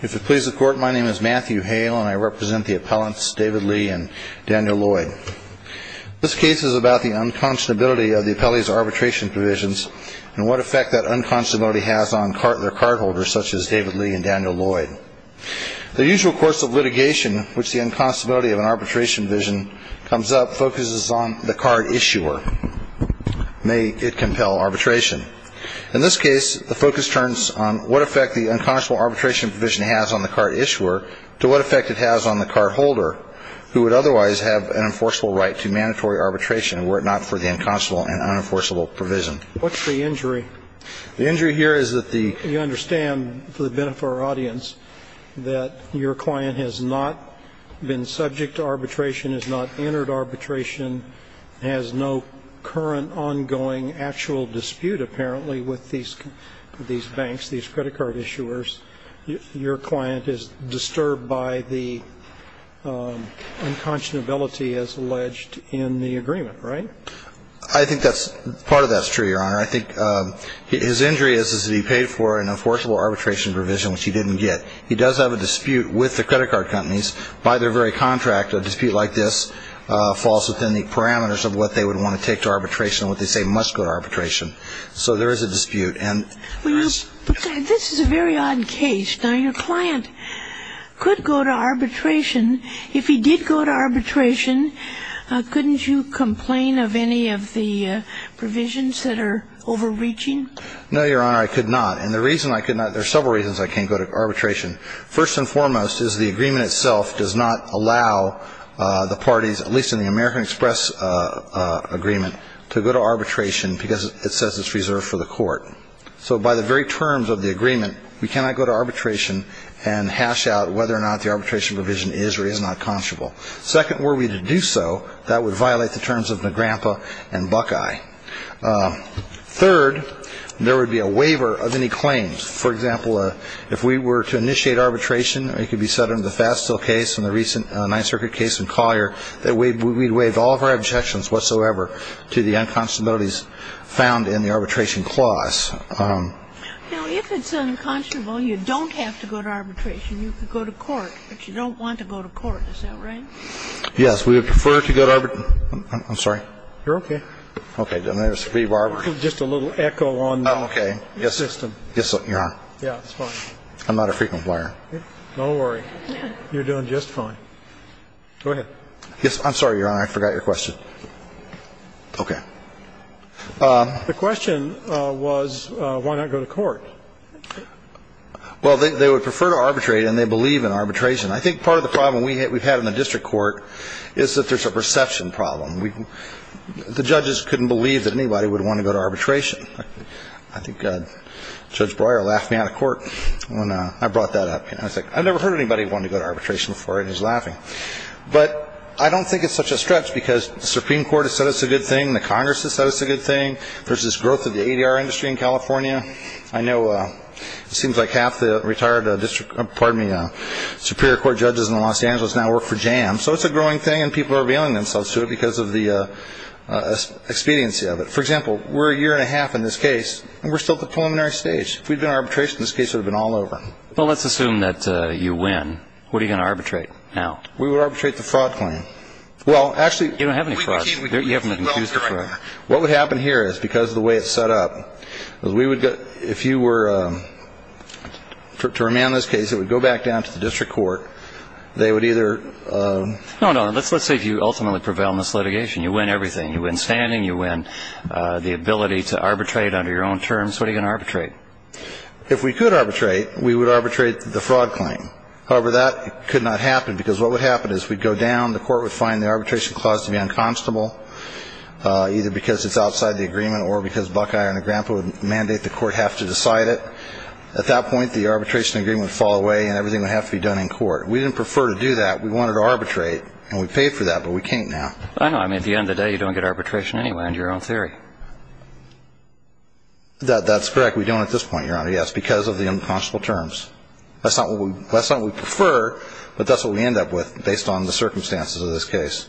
If it pleases the Court, my name is Matthew Hale, and I represent the appellants David Lee and Daniel Lloyd. This case is about the unconscionability of the appellee's arbitration provisions and what effect that unconscionability has on their cardholders, such as David Lee and Daniel Lloyd. The usual course of litigation in which the unconscionability of an arbitration provision comes up focuses on the card issuer. May it compel arbitration. In this case, the focus turns on what effect the unconscionable arbitration provision has on the card issuer to what effect it has on the cardholder, who would otherwise have an enforceable right to mandatory arbitration were it not for the unconscionable and unenforceable provision. What's the injury? The injury here is that the You understand, for the benefit of our audience, that your client has not been subject to arbitration, has not entered arbitration, has no current ongoing actual dispute, apparently, with these banks, these credit card issuers. Your client is disturbed by the unconscionability as alleged in the agreement, right? I think part of that's true, Your Honor. I think his injury is that he paid for an enforceable arbitration provision, which he didn't get. He does have a dispute with the credit card companies by their very contract. A dispute like this falls within the parameters of what they would want to take to arbitration, what they say must go to arbitration. So there is a dispute. This is a very odd case. Now, your client could go to arbitration. If he did go to arbitration, couldn't you complain of any of the provisions that are overreaching? No, Your Honor, I could not. And the reason I could not, there are several reasons I can't go to arbitration. First and foremost is the agreement itself does not allow the parties, at least in the American Express agreement, to go to arbitration because it says it's reserved for the court. So by the very terms of the agreement, we cannot go to arbitration and hash out whether or not the arbitration provision is or is not conscionable. Second, were we to do so, that would violate the terms of NAGRAMPA and Buckeye. Third, there would be a waiver of any claims. For example, if we were to initiate arbitration, it could be set under the Fastil case and the recent Ninth Circuit case in Collier, that we'd waive all of our objections whatsoever to the unconscionabilities found in the arbitration clause. Now, if it's unconscionable, you don't have to go to arbitration. You could go to court, but you don't want to go to court. Is that right? Yes. We would prefer to go to arbitration. I'm sorry. You're okay. Okay. Just a little echo on the system. Yes, Your Honor. Yeah, it's fine. I'm not a frequent player. Don't worry. You're doing just fine. Go ahead. Yes. I'm sorry, Your Honor. I forgot your question. Okay. The question was why not go to court. Well, they would prefer to arbitrate, and they believe in arbitration. I think part of the problem we've had in the district court is that there's a perception problem. The judges couldn't believe that anybody would want to go to arbitration. I think Judge Breuer laughed me out of court when I brought that up. I was like, I've never heard anybody want to go to arbitration before, and he was laughing. But I don't think it's such a stretch because the Supreme Court has said it's a good thing. The Congress has said it's a good thing. There's this growth of the ADR industry in California. I know it seems like half the retired district, pardon me, Superior Court judges in Los Angeles now work for JAM. So it's a growing thing, and people are revealing themselves to it because of the expediency of it. For example, we're a year and a half in this case, and we're still at the preliminary stage. If we'd done arbitration, this case would have been all over. Well, let's assume that you win. What are you going to arbitrate now? We would arbitrate the fraud claim. Well, actually – You don't have any frauds. You haven't been accused of fraud. What would happen here is because of the way it's set up, if you were to remand this case, it would go back down to the district court. They would either – No, no. Let's say if you ultimately prevail in this litigation, you win everything. You win standing. You win the ability to arbitrate under your own terms. What are you going to arbitrate? If we could arbitrate, we would arbitrate the fraud claim. However, that could not happen because what would happen is we'd go down. The court would find the arbitration clause to be unconstable, either because it's outside the agreement or because Buckeye and the grandpa would mandate the court have to decide it. At that point, the arbitration agreement would fall away, and everything would have to be done in court. We didn't prefer to do that. We wanted to arbitrate, and we paid for that, but we can't now. I know. I mean, at the end of the day, you don't get arbitration anywhere under your own theory. That's correct. We don't at this point, Your Honor, yes, because of the unconscionable terms. That's not what we prefer, but that's what we end up with based on the circumstances of this case.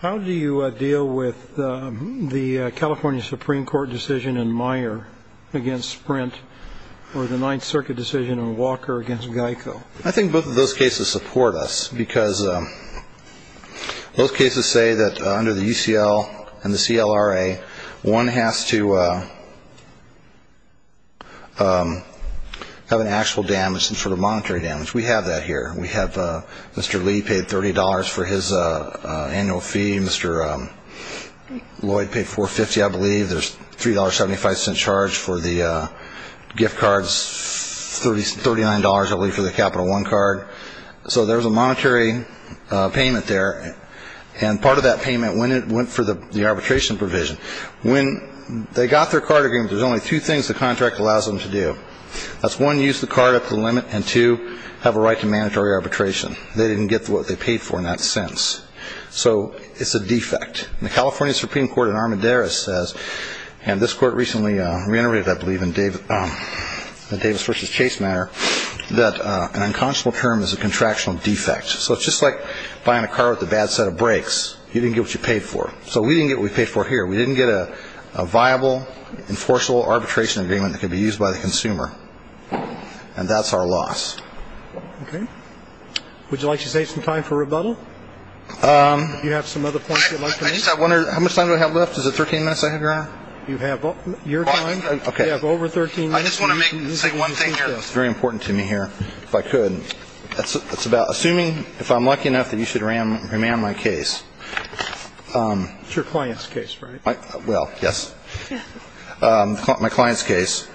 How do you deal with the California Supreme Court decision in Meyer against Sprint or the Ninth Circuit decision in Walker against Geico? I think both of those cases support us because both cases say that under the UCL and the CLRA, one has to have an actual damage, some sort of monetary damage. We have that here. We have Mr. Lee paid $30 for his annual fee. Mr. Lloyd paid $4.50, I believe. There's $3.75 charge for the gift cards, $39, I believe, for the Capital One card. So there's a monetary payment there, and part of that payment went for the arbitration provision. When they got their card agreement, there's only two things the contract allows them to do. That's, one, use the card up to the limit, and, two, have a right to mandatory arbitration. They didn't get what they paid for in that sense, so it's a defect. The California Supreme Court in Armendariz says, and this court recently reiterated, I believe, in the Davis v. Chase matter, that an unconscionable term is a contractual defect. So it's just like buying a car with a bad set of brakes. You didn't get what you paid for. So we didn't get what we paid for here. We didn't get a viable, enforceable arbitration agreement that could be used by the consumer, and that's our loss. Okay. Would you like to save some time for rebuttal? Do you have some other points you'd like to make? I just have one. How much time do I have left? Is it 13 minutes I have, Your Honor? You have your time. Okay. You have over 13 minutes. I just want to say one thing here that's very important to me here, if I could. It's about assuming if I'm lucky enough that you should remand my case. It's your client's case, right? Well, yes. My client's case.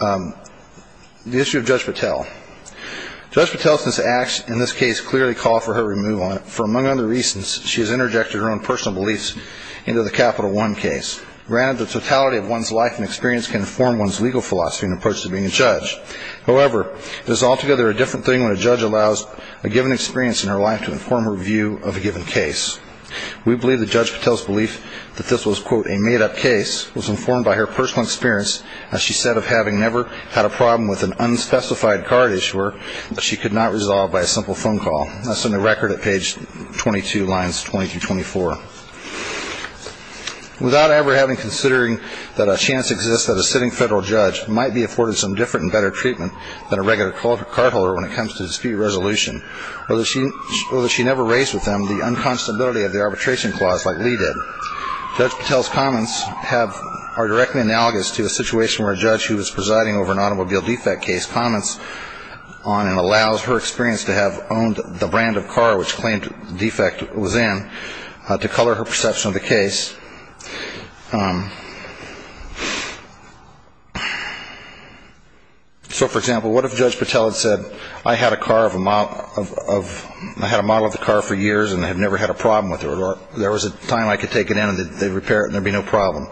The issue of Judge Patel. Judge Patel's actions in this case clearly call for her removal. For among other reasons, she has interjected her own personal beliefs into the Capital One case. Granted, the totality of one's life and experience can inform one's legal philosophy and approach to being a judge. However, it is altogether a different thing when a judge allows a given experience in her life to inform her view of a given case. We believe that Judge Patel's belief that this was, quote, was informed by her personal experience, as she said, of having never had a problem with an unspecified card issuer that she could not resolve by a simple phone call. That's in the record at page 22, lines 20 through 24. Without ever having considering that a chance exists that a sitting federal judge might be afforded some different and better treatment than a regular cardholder when it comes to dispute resolution, or that she never raised with them the unconstability of the arbitration clause like Lee did, Judge Patel's comments are directly analogous to a situation where a judge who was presiding over an automobile defect case comments on and allows her experience to have owned the brand of car which claimed the defect was in to color her perception of the case. So, for example, what if Judge Patel had said, I had a model of the car for years and I have never had a problem with it, or there was a time I could take it in and they'd repair it and there'd be no problem.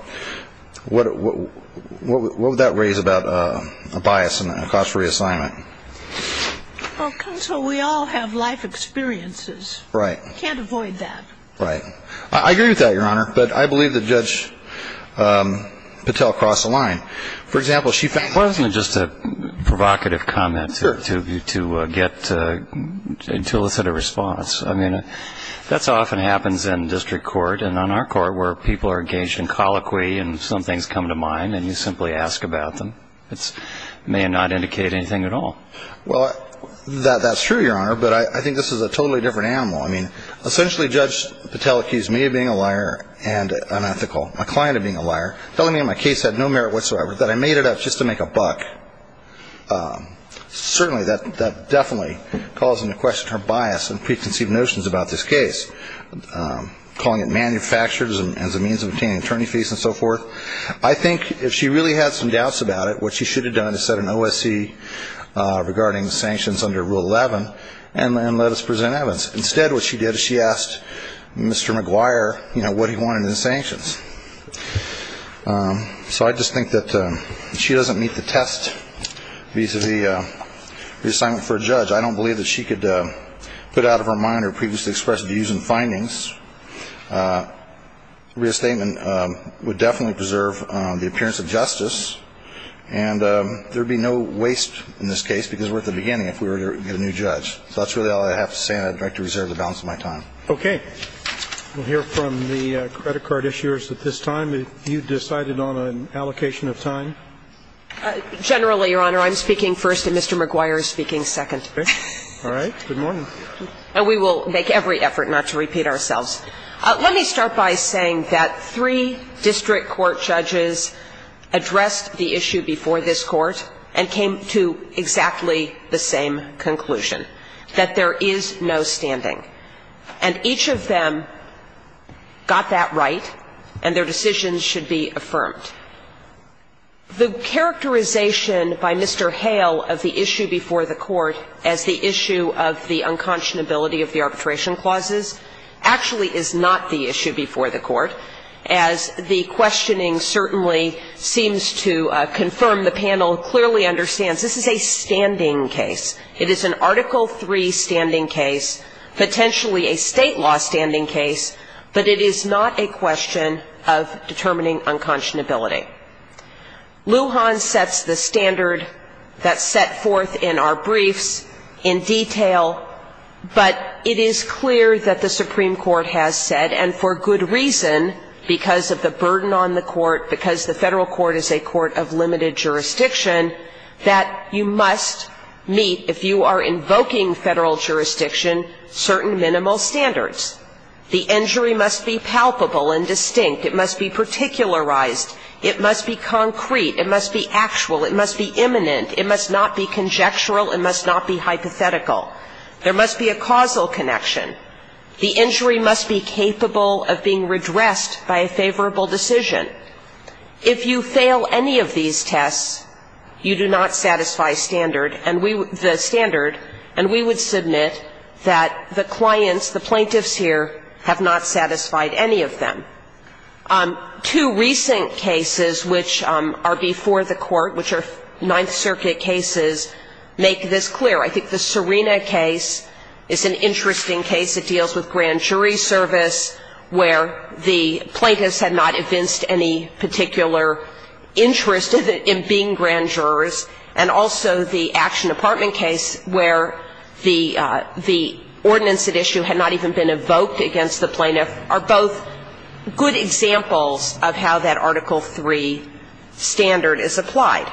What would that raise about a bias and a cost for reassignment? Well, counsel, we all have life experiences. Right. We can't avoid that. Right. I agree with that, Your Honor, but I believe that Judge Patel crossed the line. For example, she found... Well, isn't it just a provocative comment to get to elicit a response? I mean, that often happens in district court and on our court where people are engaged in colloquy and some things come to mind and you simply ask about them. It may not indicate anything at all. Well, that's true, Your Honor, but I think this is a totally different animal. I mean, essentially, Judge Patel accused me of being a liar and unethical, my client of being a liar, telling me my case had no merit whatsoever, that I made it up just to make a buck. Certainly, that definitely calls into question her bias and preconceived notions about this case, calling it manufactured as a means of obtaining attorney fees and so forth. I think if she really had some doubts about it, what she should have done is set an OSC regarding sanctions under Rule 11 and let us present evidence. Instead, what she did is she asked Mr. McGuire what he wanted in the sanctions. So I just think that if she doesn't meet the test vis-à-vis reassignment for a judge, I don't believe that she could put out of her mind her previously expressed views and findings. Reassignment would definitely preserve the appearance of justice, and there would be no waste in this case because we're at the beginning if we were to get a new judge. So that's really all I have to say, and I'd like to reserve the balance of my time. Okay. We'll hear from the credit card issuers at this time. If you decided on an allocation of time. Generally, Your Honor, I'm speaking first and Mr. McGuire is speaking second. Okay. All right. Good morning. And we will make every effort not to repeat ourselves. Let me start by saying that three district court judges addressed the issue before this court and came to exactly the same conclusion, that there is no standing. And each of them got that right, and their decisions should be affirmed. The characterization by Mr. Hale of the issue before the court as the issue of the unconscionability of the arbitration clauses actually is not the issue before the court, as the questioning certainly seems to confirm the panel clearly understands this is a standing case. It is an Article III standing case, potentially a state law standing case, but it is not a question of determining unconscionability. Lujan sets the standard that's set forth in our briefs in detail, but it is clear that the Supreme Court has said, and for good reason, because of the burden on the court, because the federal court is a court of limited jurisdiction, if you are invoking federal jurisdiction, certain minimal standards. The injury must be palpable and distinct. It must be particularized. It must be concrete. It must be actual. It must be imminent. It must not be conjectural. It must not be hypothetical. There must be a causal connection. The injury must be capable of being redressed by a favorable decision. If you fail any of these tests, you do not satisfy standard, and we the standard, and we would submit that the clients, the plaintiffs here, have not satisfied any of them. Two recent cases which are before the court, which are Ninth Circuit cases, make this clear. I think the Serena case is an interesting case. It deals with grand jury service where the plaintiffs had not evinced any particular interest in being grand jurors, and also the Action Department case where the ordinance at issue had not even been evoked against the plaintiff are both good examples of how that Article III standard is applied.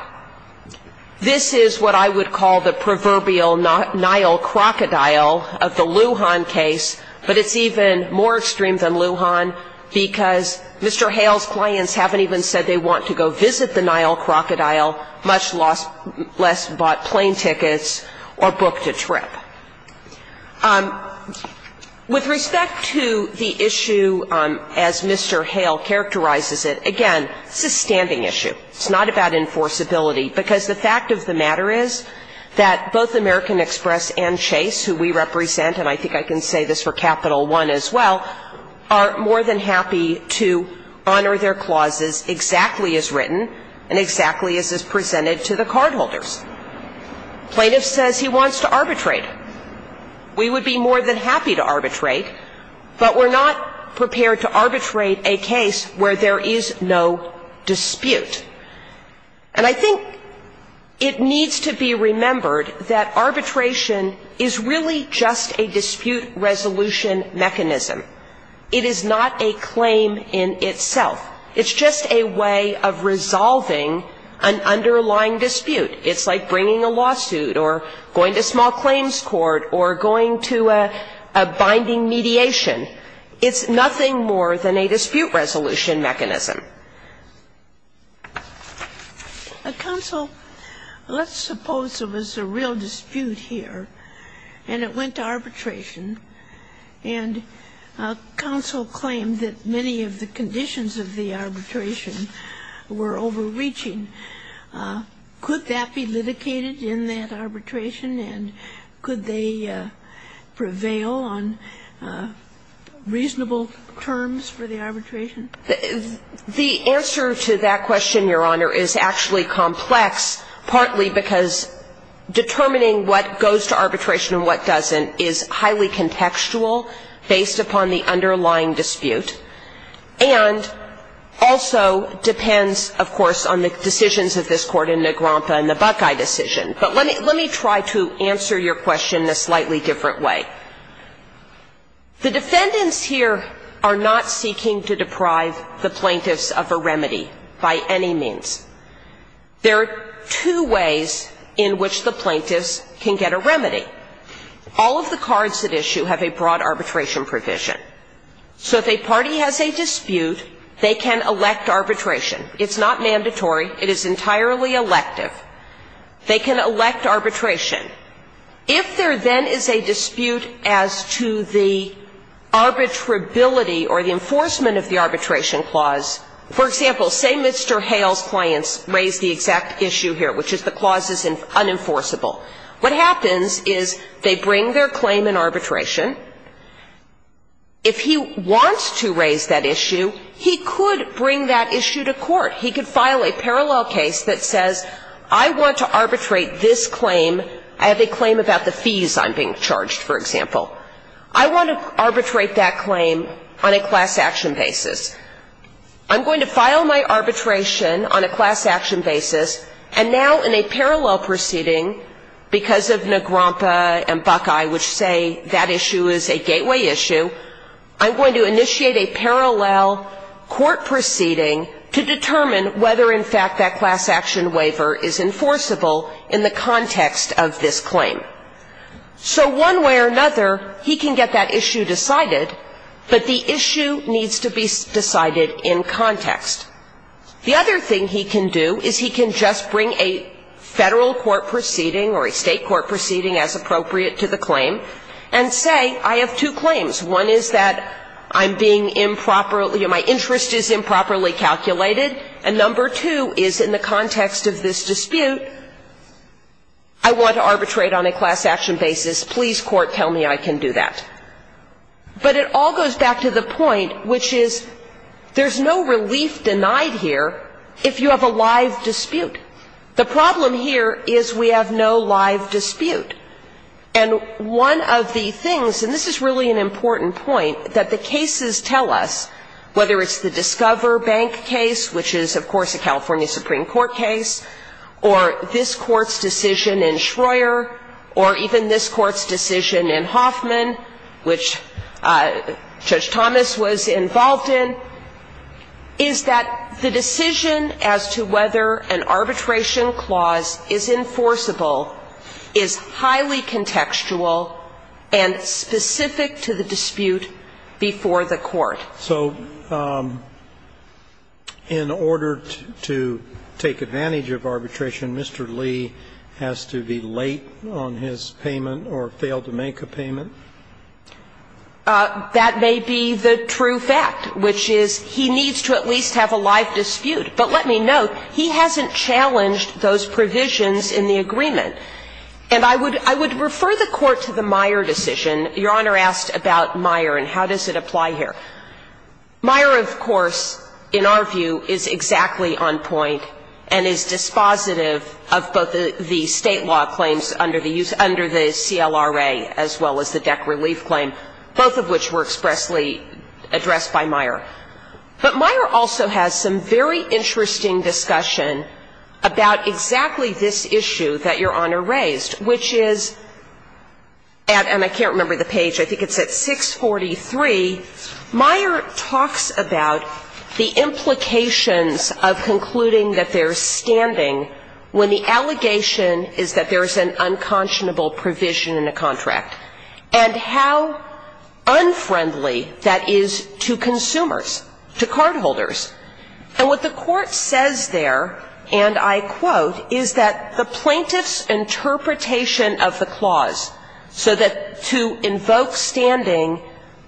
This is what I would call the proverbial Nile crocodile of the Lujan case, but it's even more extreme than Lujan because Mr. Hale's clients haven't even said they want to go visit the Nile crocodile, much less bought plane tickets or booked a trip. With respect to the issue as Mr. Hale characterizes it, again, it's a standing issue. It's not about enforceability, because the fact of the matter is that both American Express and Chase, who we represent, and I think I can say this for Capital One as well, are more than happy to honor their clauses exactly as written and exactly as is presented to the cardholders. Plaintiff says he wants to arbitrate. We would be more than happy to arbitrate, but we're not prepared to arbitrate a case where there is no dispute. And I think it needs to be remembered that arbitration is really just a dispute resolution mechanism. It is not a claim in itself. It's just a way of resolving an underlying dispute. It's like bringing a lawsuit or going to small claims court or going to a binding mediation. It's nothing more than a dispute resolution mechanism. A counsel, let's suppose there was a real dispute here and it went to arbitration and counsel claimed that many of the conditions of the arbitration were overreaching. Could that be litigated in that arbitration and could they prevail on reasonable terms for the arbitration? The answer to that question, Your Honor, is actually complex, partly because determining what goes to arbitration and what doesn't is highly contextual based upon the underlying dispute and also depends, of course, on the decisions of this Court in Negrompa and the Buckeye decision. But let me try to answer your question in a slightly different way. The defendants here are not seeking to deprive the plaintiffs of a remedy by any means. There are two ways in which the plaintiffs can get a remedy. All of the cards at issue have a broad arbitration provision. So if a party has a dispute, they can elect arbitration. It's not mandatory. It is entirely elective. They can elect arbitration. If there then is a dispute as to the arbitrability or the enforcement of the arbitration clause, for example, say Mr. Hale's clients raise the exact issue here, which is the clause is unenforceable. What happens is they bring their claim in arbitration. If he wants to raise that issue, he could bring that issue to court. He could file a parallel case that says I want to arbitrate this claim. I have a claim about the fees I'm being charged, for example. I want to arbitrate that claim on a class action basis. I'm going to file my arbitration on a class action basis, and now in a parallel proceeding, because of Negrompa and Buckeye, which say that issue is a gateway issue, I'm going to initiate a parallel court proceeding to determine whether in fact that class action waiver is enforceable in the context of this claim. So one way or another, he can get that issue decided, but the issue needs to be decided in context. The other thing he can do is he can just bring a Federal court proceeding or a State court proceeding as appropriate to the claim and say I have two claims. One is that I'm being improperly or my interest is improperly calculated. And number two is in the context of this dispute, I want to arbitrate on a class action basis. Please, court, tell me I can do that. But it all goes back to the point, which is there's no relief denied here if you have a live dispute. The problem here is we have no live dispute. And one of the things, and this is really an important point, that the cases tell us, whether it's the Discover Bank case, which is, of course, a California Supreme Court case, or this Court's decision in Schroer, or even this Court's decision in Hoffman, which Judge Thomas was involved in, is that the decision as to whether an arbitration clause is enforceable is highly contextual and specific to the dispute before the court. So in order to take advantage of arbitration, Mr. Lee has to be late on his payment or fail to make a payment? That may be the true fact, which is he needs to at least have a live dispute. But let me note, he hasn't challenged those provisions in the agreement. And I would refer the Court to the Meyer decision. Your Honor asked about Meyer and how does it apply here. Meyer, of course, in our view, is exactly on point and is dispositive of both the State law claims under the CLRA as well as the DEC relief claim, both of which were expressly addressed by Meyer. But Meyer also has some very interesting discussion about exactly this issue that Your Honor raised, which is, and I can't remember the page, I think it's at 643, Meyer talks about the implications of concluding that they're standing when the allegation is that there is an unconscionable provision in a contract, and how And what the Court says there, and I quote, is that the plaintiff's interpretation of the clause so that to invoke standing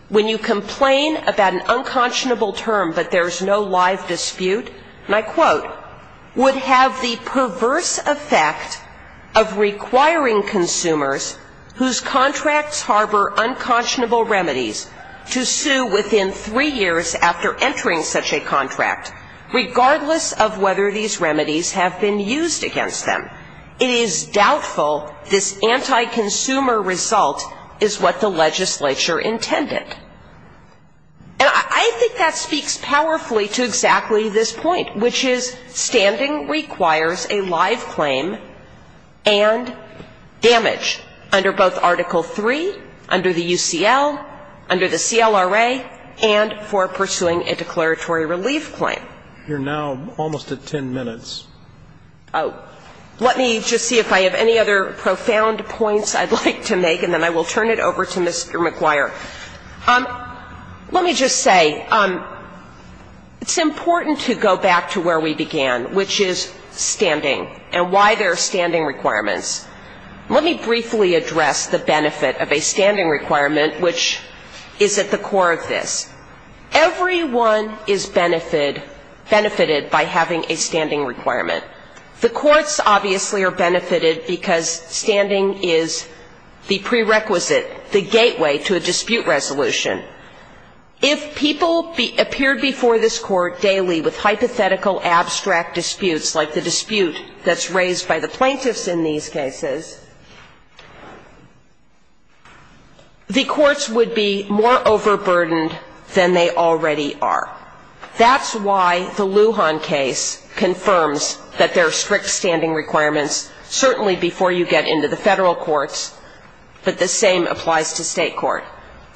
when you complain about an unconscionable term but there's no live dispute, and I quote, would have the perverse effect of requiring consumers whose contracts harbor unconscionable remedies to sue within three years after entering such a contract, regardless of whether these remedies have been used against them. It is doubtful this anti-consumer result is what the legislature intended. And I think that speaks powerfully to exactly this point, which is standing requires a live claim and damage under both Article III, under the UCL, under the LRA, and for pursuing a declaratory relief claim. You're now almost at 10 minutes. Oh. Let me just see if I have any other profound points I'd like to make, and then I will turn it over to Mr. McGuire. Let me just say, it's important to go back to where we began, which is standing and why there are standing requirements. Let me briefly address the benefit of a standing requirement, which is at the core of this. Everyone is benefited by having a standing requirement. The courts obviously are benefited because standing is the prerequisite, the gateway to a dispute resolution. If people appeared before this Court daily with hypothetical, abstract disputes like the one we're discussing, the courts would be more overburdened than they already are. That's why the Lujan case confirms that there are strict standing requirements, certainly before you get into the federal courts, but the same applies to state court.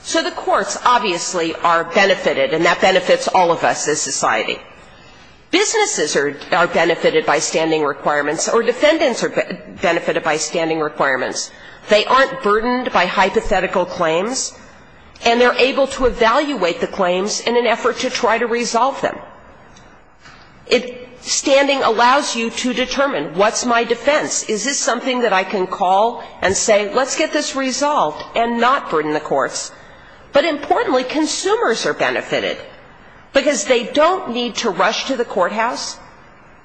So the courts obviously are benefited, and that benefits all of us as society. Businesses are benefited by standing requirements, or defendants are benefited by standing requirements. They aren't burdened by hypothetical claims, and they're able to evaluate the claims in an effort to try to resolve them. Standing allows you to determine, what's my defense? Is this something that I can call and say, let's get this resolved and not burden the courts? But importantly, consumers are benefited, because they don't need to rush to the courthouse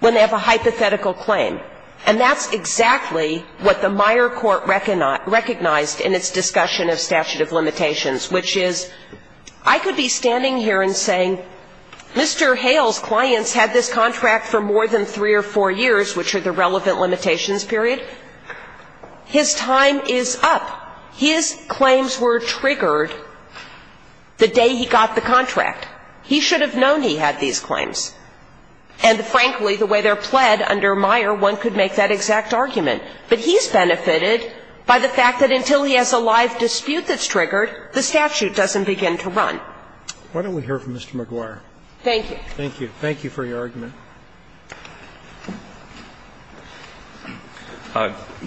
when they have a hypothetical claim. And that's exactly what the Meyer Court recognized in its discussion of statute of limitations, which is, I could be standing here and saying, Mr. Hale's clients had this contract for more than three or four years, which are the relevant limitations period. His time is up. His claims were triggered the day he got the contract. He should have known he had these claims. And frankly, the way they're pled under Meyer, one could make that exact argument. But he's benefited by the fact that until he has a live dispute that's triggered, the statute doesn't begin to run. Why don't we hear from Mr. McGuire? Thank you. Thank you. Thank you for your argument.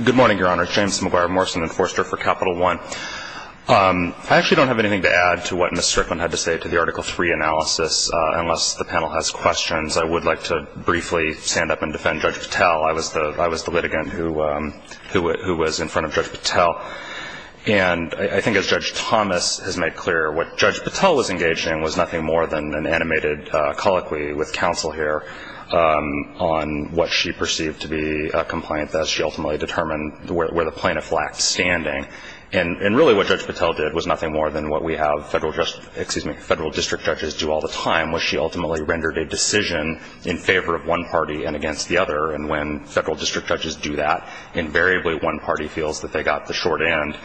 Good morning, Your Honor. James McGuire, Morrison Enforcer for Capital One. I actually don't have anything to add to what Ms. Strickland had to say to the Article III analysis unless the panel has questions. I would like to briefly stand up and defend Judge Patel. I was the litigant who was in front of Judge Patel. And I think as Judge Thomas has made clear, what Judge Patel was engaged in was nothing more than an animated colloquy with counsel here on what she perceived to be a complaint that she ultimately determined where the plaintiff lacked standing. And really what Judge Patel did was nothing more than what we have federal district judges do all the time, which she ultimately rendered a decision in favor of one party and against the other. And when federal district judges do that, invariably one party feels that they got the short end.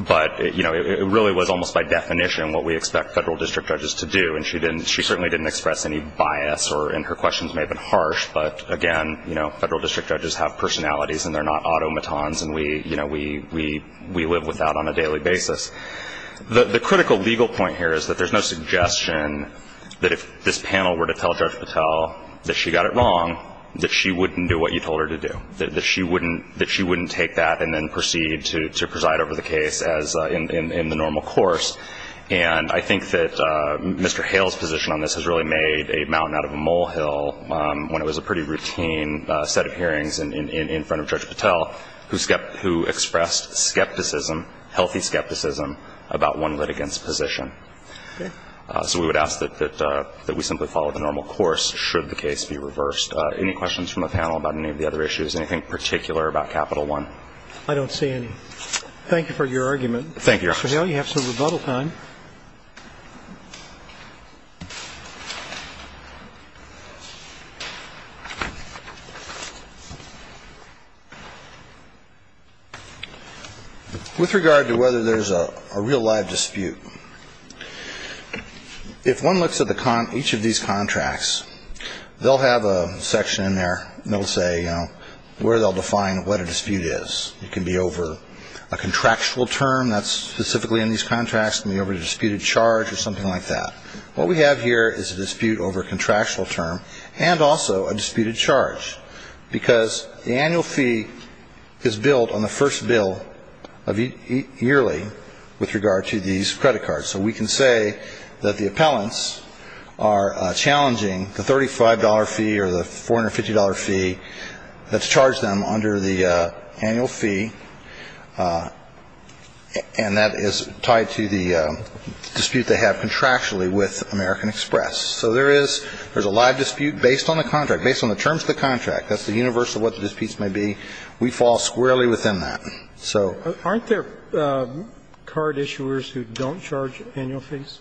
But it really was almost by definition what we expect federal district judges to do. And she certainly didn't express any bias. And her questions may have been harsh. But again, federal district judges have personalities and they're not The critical legal point here is that there's no suggestion that if this panel were to tell Judge Patel that she got it wrong, that she wouldn't do what you told her to do, that she wouldn't take that and then proceed to preside over the case as in the normal course. And I think that Mr. Hale's position on this has really made a mountain out of a molehill when it was a pretty routine set of hearings in front of Judge Patel who expressed skepticism, healthy skepticism about one litigant's position. So we would ask that we simply follow the normal course should the case be reversed. Any questions from the panel about any of the other issues? Anything particular about Capital One? I don't see any. Thank you for your argument. Thank you, Your Honor. Mr. Hale, you have some rebuttal time. With regard to whether there's a real live dispute, if one looks at each of these contracts, they'll have a section in there that will say where they'll define what a dispute is. It can be over a contractual term that's specifically in these contracts. It can be over a disputed charge or something like that. What we have here is a dispute over a contractual term and also a disputed charge because the annual fee is billed on the first bill yearly with regard to these credit cards. So we can say that the appellants are challenging the $35 fee or the $450 fee that's charged them under the annual fee, and that is tied to the dispute they have contractually with American Express. So there is a live dispute based on the contract, based on the terms of the contract. That's the universe of what the disputes may be. We fall squarely within that. Aren't there card issuers who don't charge annual fees?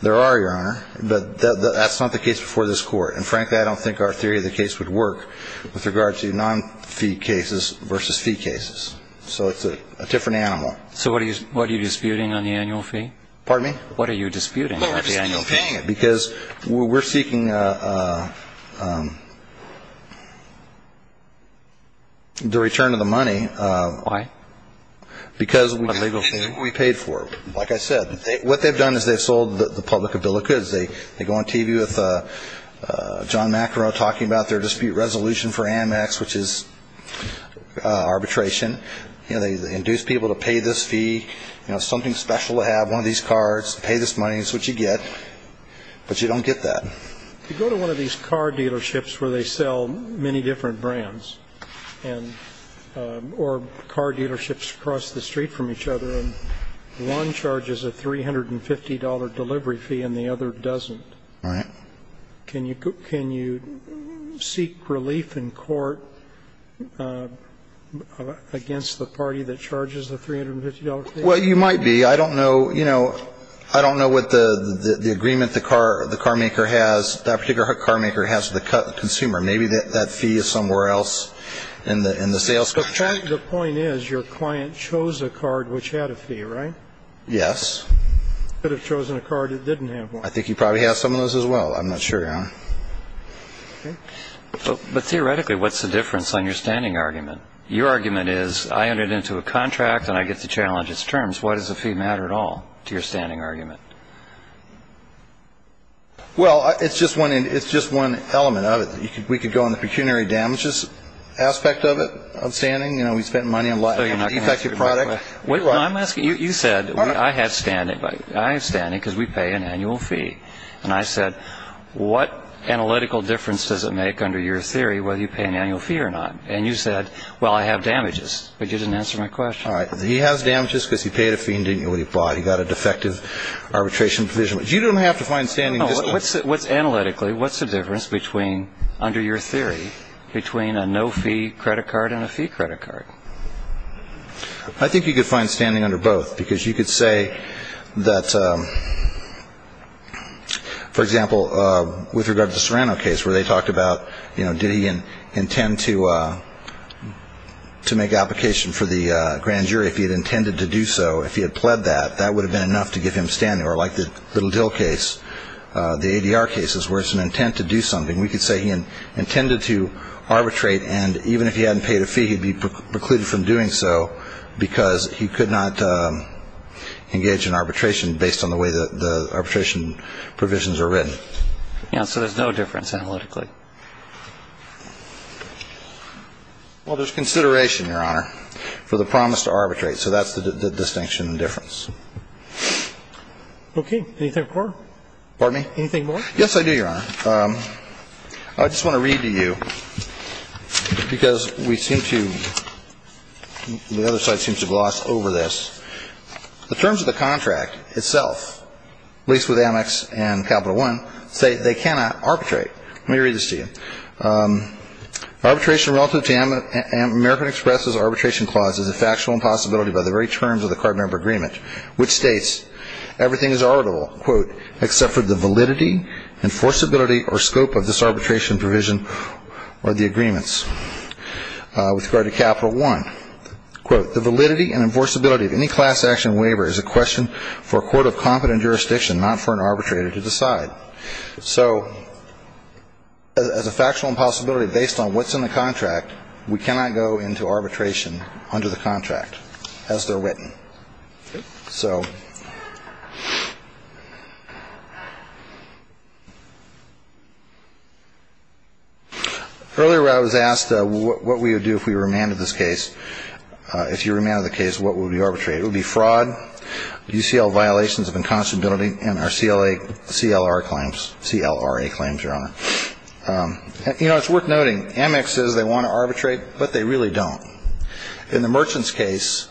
There are, Your Honor, but that's not the case before this Court. And frankly, I don't think our theory of the case would work with regard to non-fee cases versus fee cases. So it's a different animal. So what are you disputing on the annual fee? Pardon me? What are you disputing on the annual fee? Because we're seeking the return of the money. Why? Because we paid for it. Like I said, what they've done is they've sold the public a bill of goods. They go on TV with John Macarone talking about their dispute resolution for Amex, which is arbitration. They induced people to pay this fee, you know, something special to have one of these cards, pay this money. That's what you get. But you don't get that. You go to one of these car dealerships where they sell many different brands, or car dealerships across the street from each other, and one charges a $350 delivery fee and the other doesn't. Right. Can you seek relief in court against the party that charges the $350 delivery fee? Well, you might be. I don't know, you know, I don't know what the agreement the carmaker has, that particular carmaker has with the consumer. Maybe that fee is somewhere else in the sales contract. The point is your client chose a card which had a fee, right? Yes. Could have chosen a card that didn't have one. I think he probably has some of those as well. I'm not sure, Your Honor. But theoretically, what's the difference on your standing argument? Your argument is I entered into a contract and I get to challenge its terms. Why does the fee matter at all to your standing argument? Well, it's just one element of it. We could go on the pecuniary damages aspect of it, of standing. You know, we spend money on defective products. You said, I have standing because we pay an annual fee. And I said, what analytical difference does it make under your theory whether you pay an annual fee or not? And you said, well, I have damages. But you didn't answer my question. All right. He has damages because he paid a fee and didn't know what he bought. He got a defective arbitration provision. You don't have to find standing. What's analytically, what's the difference between under your theory between a no fee credit card and a fee credit card? I think you could find standing under both because you could say that, for example, with regard to the Serrano case where they talked about, you know, did he intend to to make application for the grand jury? If he had intended to do so, if he had pled that, that would have been enough to get him standing. Or like the Little Dill case, the ADR cases, where it's an intent to do something. We could say he intended to arbitrate, and even if he hadn't paid a fee, he'd be precluded from doing so because he could not engage in arbitration based on the way that the arbitration provisions are written. Yeah. So there's no difference analytically. Well, there's consideration, Your Honor, for the promise to arbitrate. So that's the distinction and difference. Okay. Anything more? Pardon me? Anything more? Yes, I do, Your Honor. I just want to read to you, because we seem to, the other side seems to gloss over this. The terms of the contract itself, at least with Amex and Capital One, say they cannot arbitrate. Let me read this to you. Arbitration relative to American Express's arbitration clause is a factual impossibility by the very terms of the card member agreement, which states everything is arbitrable, quote, except for the validity, enforceability, or scope of this arbitration provision or the agreements with regard to Capital One. Quote, the validity and enforceability of any class action waiver is a question for a court of competent jurisdiction, not for an arbitrator to decide. So as a factual impossibility based on what's in the contract, we cannot go into arbitration under the contract as they're written. So earlier I was asked what we would do if we remanded this case. If you remanded the case, what would we arbitrate? It would be fraud, UCL violations of inconstability, and our CLA, CLR claims, CLRA claims, Your Honor. You know, it's worth noting, Amex says they want to arbitrate, but they really don't. In the Merchant's case,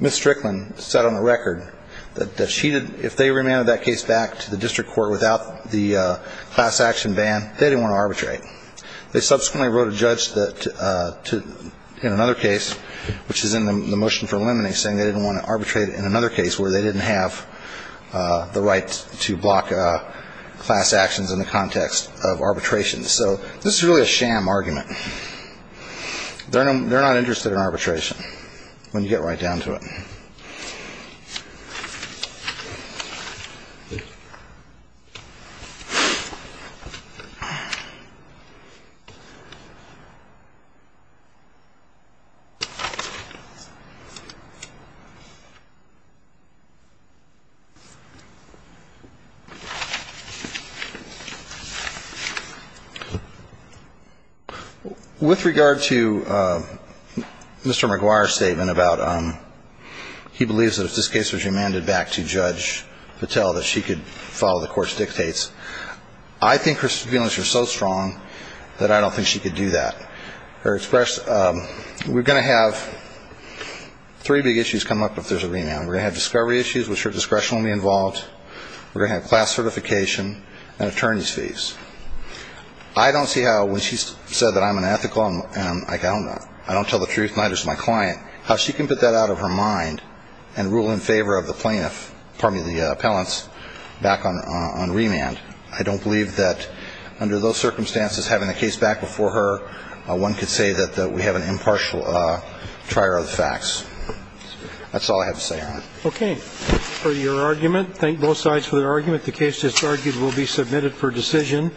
Ms. Strickland said on the record that she did, if they remanded that case back to the district court without the class action ban, they didn't want to arbitrate. They subsequently wrote a judge in another case, which is in the motion for eliminating, saying they didn't want to arbitrate in another case where they didn't have the right to block class actions in the context of arbitration. So this is really a sham argument. They're not interested in arbitration when you get right down to it. With regard to Mr. McGuire's statement about he believes that if this case was remanded back to Judge Patel, that she could follow the court's dictates, I think her feelings are so strong that I don't think she could do that. We're going to have three big issues come up if there's a remand. We're going to have discovery issues, which her discretion will be involved. We're going to have class certification and attorney's fees. I don't see how when she said that I'm unethical and I don't tell the truth and neither is my client, how she can put that out of her mind and rule in favor of the plaintiff, pardon me, the appellants back on remand. I don't believe that under those circumstances, having the case back before her, one could say that we have an impartial trier of the facts. That's all I have to say on it. Okay. For your argument, thank both sides for their argument. The case that's argued will be submitted for decision.